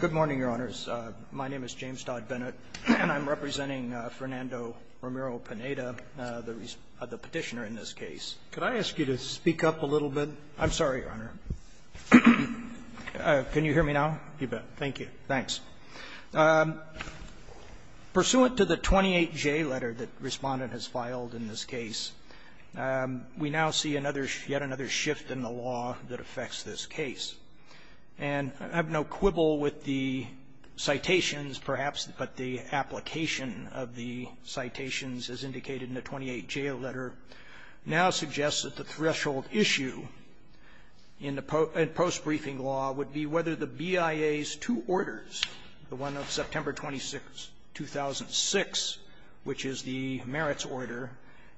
Good morning, Your Honors. My name is James Todd Bennett, and I'm representing Fernando Romero-Pineda, the Petitioner in this case. Could I ask you to speak up a little bit? I'm sorry, Your Honor. Can you hear me now? You bet. Thank you. Thanks. Pursuant to the 28J letter that Respondent has filed in this case, we now see yet another shift in the law that affects this case. And I have no quibble with the citations, perhaps, but the application of the citations as indicated in the 28J letter now suggests that the threshold issue in the post-briefing law would be whether the BIA's two orders, the one of September 26, 2006, which is the merits order,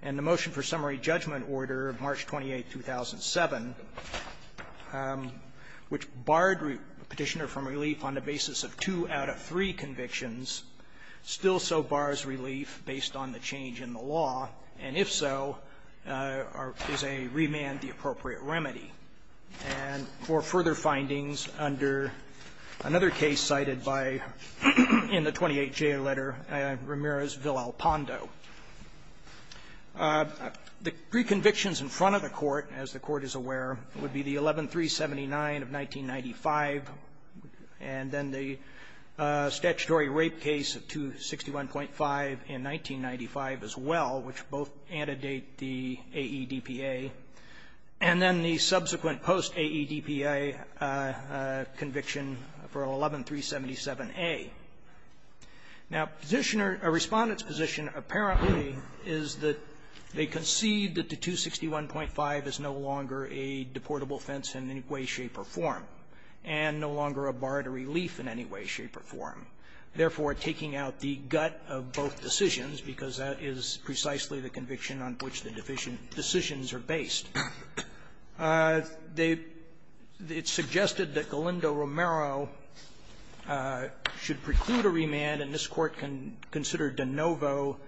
and the motion for summary judgment order of March 28, 2007, which barred Petitioner from relief on the basis of two out of three convictions, still so bars relief based on the change in the law, and if so, is a remand the appropriate remedy. And for further findings under another case cited by the 28J letter, Romero's Petitioner would be the 11379 of 1995 and then the statutory rape case of 261.5 in 1995 as well, which both antedate the AEDPA, and then the subsequent post-AEDPA conviction for 11377A. Now, Petitioner or Respondent's position apparently is that they concede that the 261.5 is no longer a deportable offense in any way, shape, or form, and no longer a bar to relief in any way, shape, or form, therefore taking out the gut of both decisions, because that is precisely the conviction on which the decisions are based. It's suggested that Galindo-Romero should preclude a remand, and this Court can consider de novo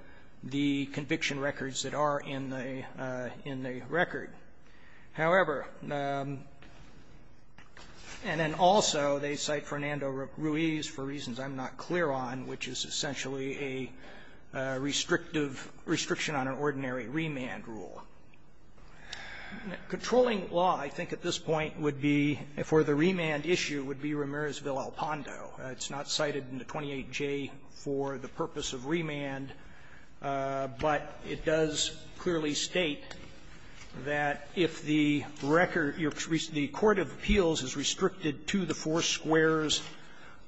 the conviction records that are in the record. However, and then also they cite Fernando Ruiz for reasons I'm not clear on, which is essentially a restrictive restriction on an ordinary remand rule. Controlling law, I think at this point, would be, for the remand issue, would be Romero's Vilalpando. It's not cited in the 28J for the purpose of remand, but it does clearly state that if the record, the court of appeals is restricted to the four squares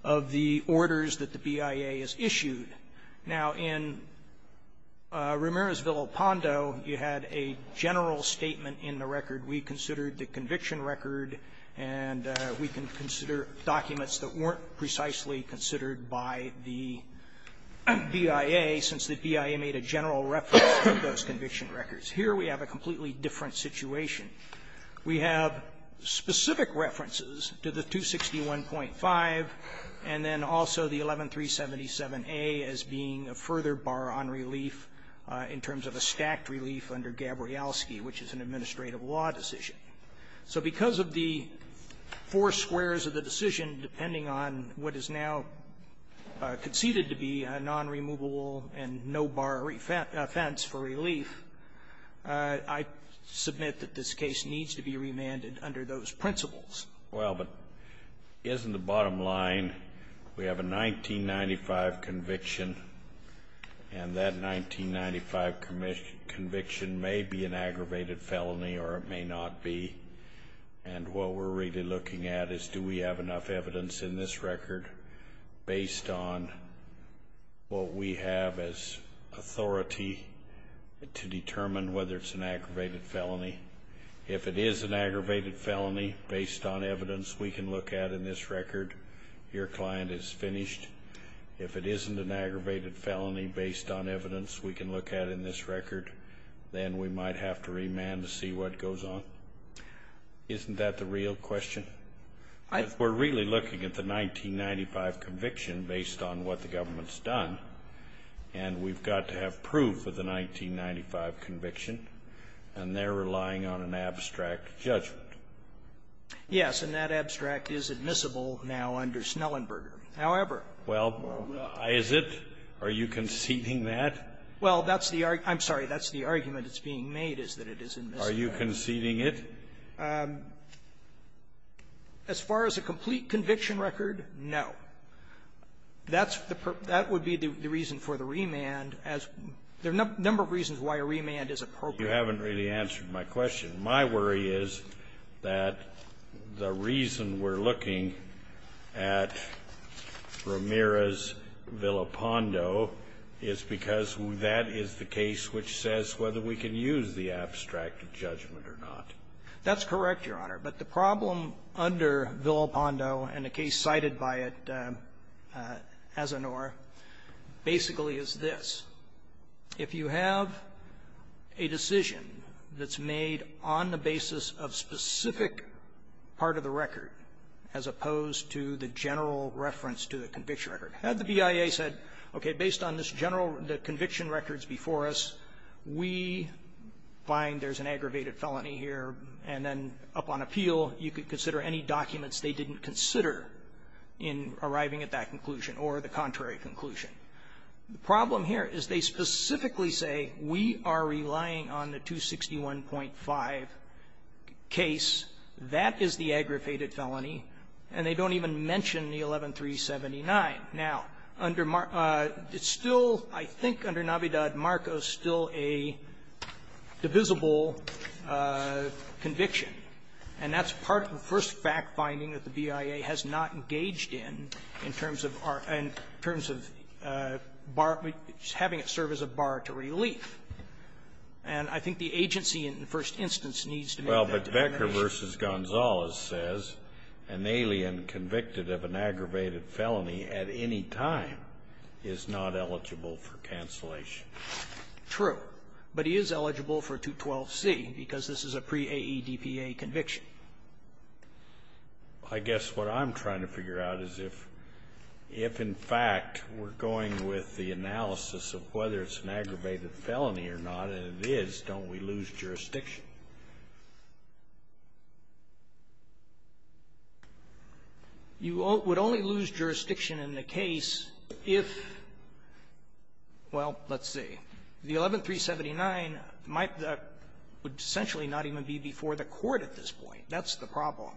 of the orders that the BIA has issued. Now, in Romero's Vilalpando, you had a general statement in the record. We considered the conviction record, and we can consider documents that weren't precisely considered by the BIA, since the BIA made a general reference to those conviction records. Here we have a completely different situation. We have specific references to the 261.5, and then also the 11377A as being a further bar on relief in terms of a stacked relief under Gabrielski, which is an administrative law decision. So because of the four squares of the decision, depending on what is now conceded to be a non-removable and no-bar offense for relief, I submit that this case needs to be remanded under those principles. Well, but isn't the bottom line, we have a 1995 conviction, and that 1995 conviction may be an aggravated felony or it may not be. And what we're really looking at is, do we have enough evidence in this record based on what we have as authority to do? If it isn't based on evidence we can look at in this record, your client is finished. If it isn't an aggravated felony based on evidence we can look at in this record, then we might have to remand to see what goes on. Isn't that the real question? I... If we're really looking at the 1995 conviction based on what the government's done, and we've got to have proof of the 1995 conviction, and they're relying on an abstract judgment. Yes. And that abstract is admissible now under Snellenberger. However... Well, is it? Are you conceding that? Well, that's the argument. I'm sorry. That's the argument that's being made, is that it is admissible. Are you conceding it? As far as a complete conviction record, no. That's the perp that would be the reason for the remand as there are a number of reasons why a remand is appropriate. You haven't really answered my question. My worry is that the reason we're looking at Ramirez-Villapando is because that is the case which says whether we can use the abstract judgment or not. That's correct, Your Honor. But the problem under Villapando and the case cited by it, Asanoor, basically is this. If you have a decision that's made on the basis of specific part of the record as opposed to the general reference to the conviction record, had the BIA said, okay, based on this general, the conviction records before us, we find there's an aggravated felony here, and then up on appeal, you could consider any documents they didn't consider in arriving at that conclusion or the contrary conclusion. The problem here is they specifically say, we are relying on the 261.5 case. That is the aggravated felony, and they don't even mention the 11379. Now, under Marcos, it's still, I think, under Navidad-Marcos, still a divisible conviction. And that's part of the first fact-finding that the BIA has not engaged in, in terms of our – in terms of having it serve as a bar to relief. And I think the agency, in the first instance, needs to make that determination. Well, but Becker v. Gonzales says an alien convicted of an aggravated felony at any time is not eligible for cancellation. True. But he is eligible for 212C, because this is a pre-AEDPA conviction. I guess what I'm trying to figure out is if, if in fact we're going with the analysis of whether it's an aggravated felony or not, and it is, don't we lose jurisdiction? You would only lose jurisdiction in the case if, well, let's see. The 11379 might – would essentially not even be before the Court at this point. That's the problem.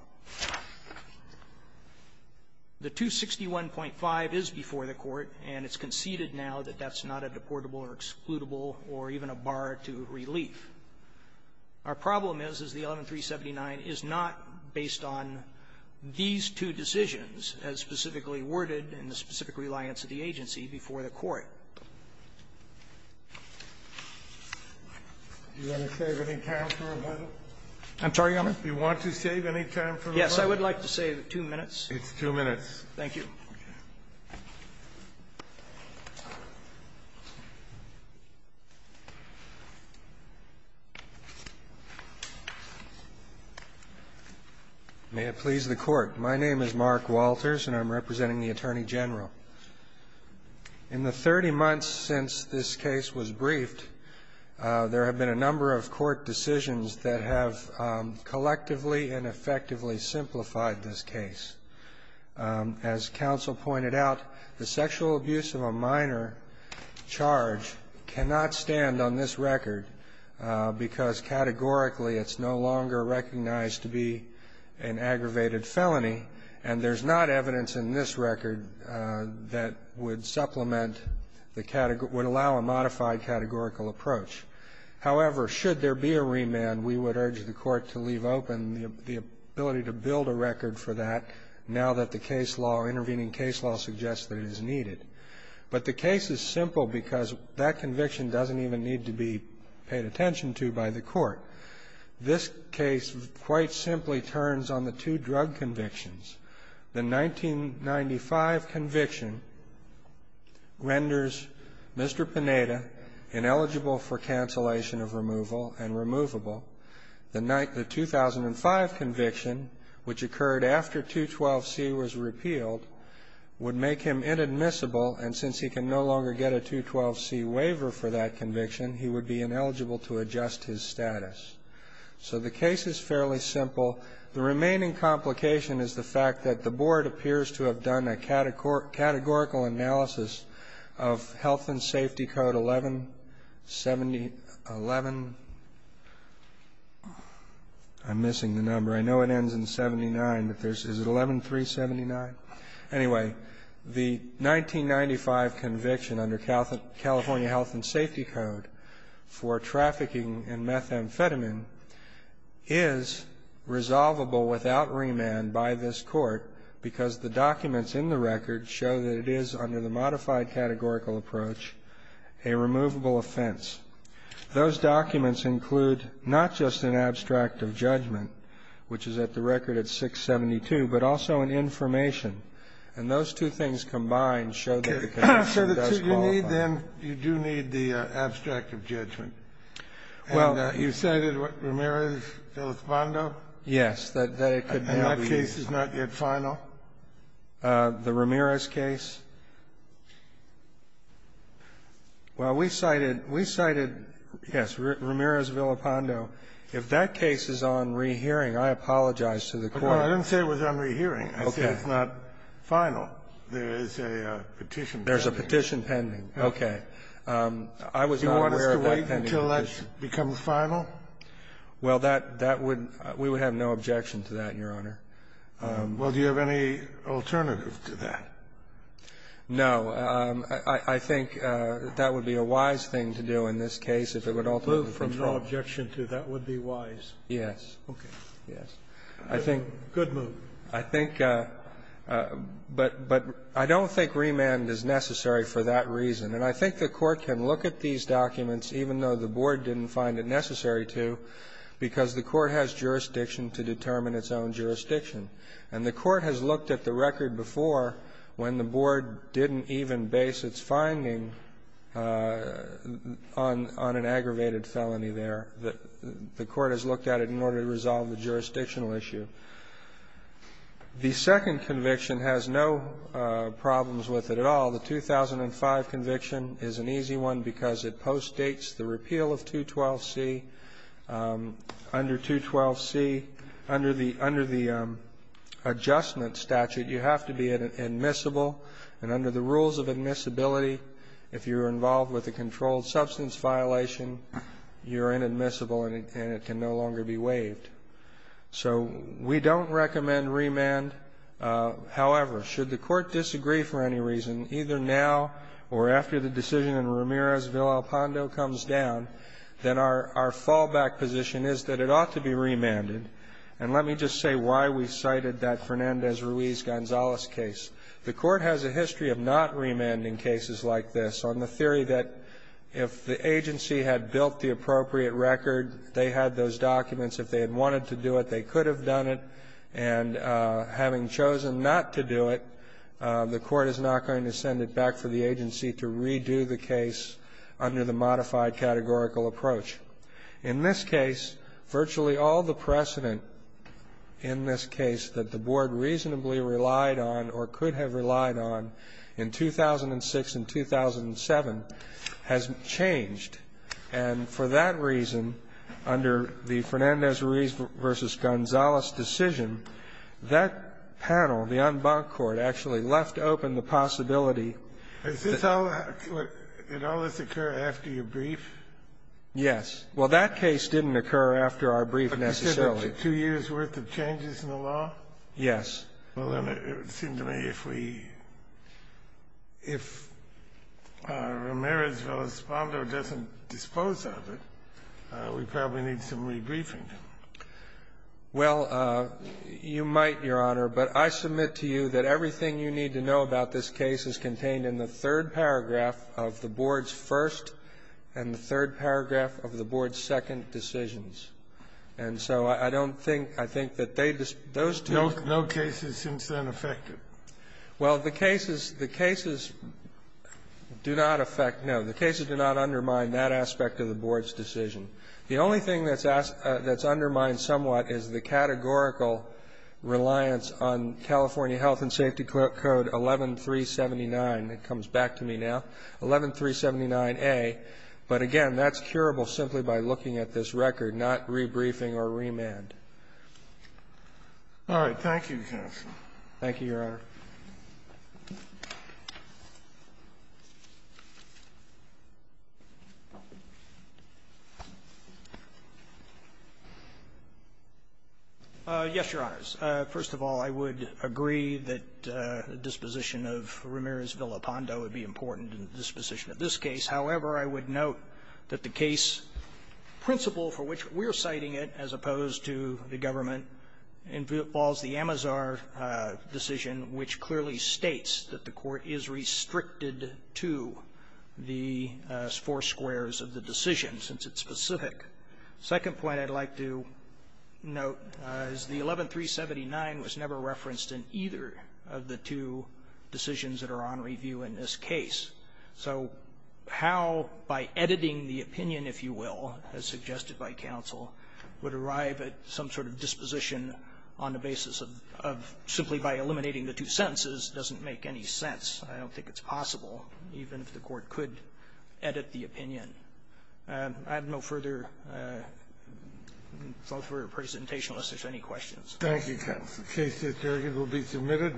The 261.5 is before the Court, and it's conceded now that that's not a deportable or excludable or even a bar to relief. Our problem is, is the 11379 is not based on these two decisions as specifically worded in the specific reliance of the agency before the Court. Do you want to save any time for rebuttal? I'm sorry, Your Honor? Do you want to save any time for rebuttal? Yes. I would like to save two minutes. It's two minutes. Thank you. May it please the Court. My name is Mark Walters, and I'm representing the Attorney General. In the 30 months since this case was briefed, there have been a number of court decisions that have collectively and effectively simplified this case. As counsel pointed out, the sexual abuse of a minor charge cannot stand on this record because categorically it's no longer recognized to be an aggravated felony, and there's not evidence in this record that would supplement the – would allow a modified categorical approach. However, should there be a remand, we would urge the Court to leave open the ability to build a record for that now that the case law, intervening case law, suggests that it is needed. But the case is simple because that conviction doesn't even need to be paid attention to by the Court. This case quite simply turns on the two drug convictions. The 1995 conviction renders Mr. Pineda ineligible for cancellation of removal and removable. The 2005 conviction, which occurred after 212C was repealed, would make him inadmissible, and since he can no longer get a 212C waiver for that conviction, he would be ineligible to adjust his status. So the case is fairly simple. The remaining complication is the fact that the Board appears to have done a categorical analysis of Health and Safety Code 1170 – 11 – I'm missing the number. I know it ends in 79, but there's – is it 11379? Anyway, the 1995 conviction under California Health and Safety Code for trafficking in methamphetamine is resolvable without remand by this Court because the documents in the record show that it is, under the modified categorical approach, a removable offense. Those documents include not just an abstract of judgment, which is at the record at 672, but also an information, and those two things combined show that the conviction does qualify. Kennedy, you need then – you do need the abstract of judgment. Well, you said it was Ramirez-Felizbando? Yes, that it could be. And that case is not yet final? The Ramirez case? Well, we cited – we cited, yes, Ramirez-Felizbando. If that case is on rehearing, I apologize to the Court. I didn't say it was on rehearing. Okay. I said it's not final. There is a petition pending. There's a petition pending. Okay. I was not aware of that pending. Do you want us to wait until that becomes final? Well, that would – we would have no objection to that, Your Honor. Well, do you have any alternative to that? No. I think that would be a wise thing to do in this case if it would ultimately be final. Move from no objection to that would be wise? Yes. Okay. Yes. I think – Good move. I think – but I don't think remand is necessary for that reason. And I think the Court can look at these documents, even though the Board didn't find it necessary to, because the Court has jurisdiction to determine its own jurisdiction. And the Court has looked at the record before when the Board didn't even base its finding on an aggravated felony there. The Court has looked at it in order to resolve the jurisdictional issue. The second conviction has no problems with it at all. The 2005 conviction is an easy one because it postdates the repeal of 212C. Under 212C, under the adjustment statute, you have to be admissible. And under the rules of admissibility, if you're involved with a controlled substance violation, you're inadmissible and it can no longer be waived. So we don't recommend remand. However, should the Court disagree for any reason, either now or after the decision in Ramirez v. Alpondo comes down, then our fallback position is that it ought to be remanded. And let me just say why we cited that Fernandez-Ruiz-Gonzalez case. The Court has a history of not remanding cases like this, on the theory that if the agency had built the appropriate record, they had those documents. If they had wanted to do it, they could have done it. And having chosen not to do it, the Court is not going to send it back to the agency to redo the case under the modified categorical approach. In this case, virtually all the precedent in this case that the Board reasonably relied on or could have relied on in 2006 and 2007 has changed. And for that reason, under the Fernandez-Ruiz v. Gonzalez decision, that panel, the en banc court, actually left open the possibility that the Court could have done it. Kennedy, did all this occur after your brief? Yes. Well, that case didn't occur after our brief, necessarily. But you said there were two years' worth of changes in the law? Yes. Well, then it would seem to me if we — if Ramirez-Valospando doesn't dispose of it, we probably need some rebriefing. Well, you might, Your Honor. But I submit to you that everything you need to know about this case is contained in the third paragraph of the Board's first and the third paragraph of the Board's second decisions. And so I don't think — I think that they — those two — No cases since then affect it? Well, the cases — the cases do not affect — no, the cases do not undermine that aspect of the Board's decision. The only thing that's undermined somewhat is the categorical reliance on California Health and Safety Code 11379 — it comes back to me now — 11379A. But, again, that's curable simply by looking at this record, not rebriefing or remand. All right. Thank you, counsel. Thank you, Your Honor. Yes, Your Honors. First of all, I would agree that the disposition of Ramirez-Valospando would be important in the disposition of this case. However, I would note that the 11379 was never referenced in either of the two decisions that are on review in this case. So how, by editing the opinion, if you will, as suggested by counsel, would some sort of disposition on the basis of — of simply by eliminating the two sentences doesn't make any sense. I don't think it's possible, even if the Court could edit the opinion. I have no further thought for your presentation unless there's any questions. Thank you, counsel. The case is adjourned and will be submitted.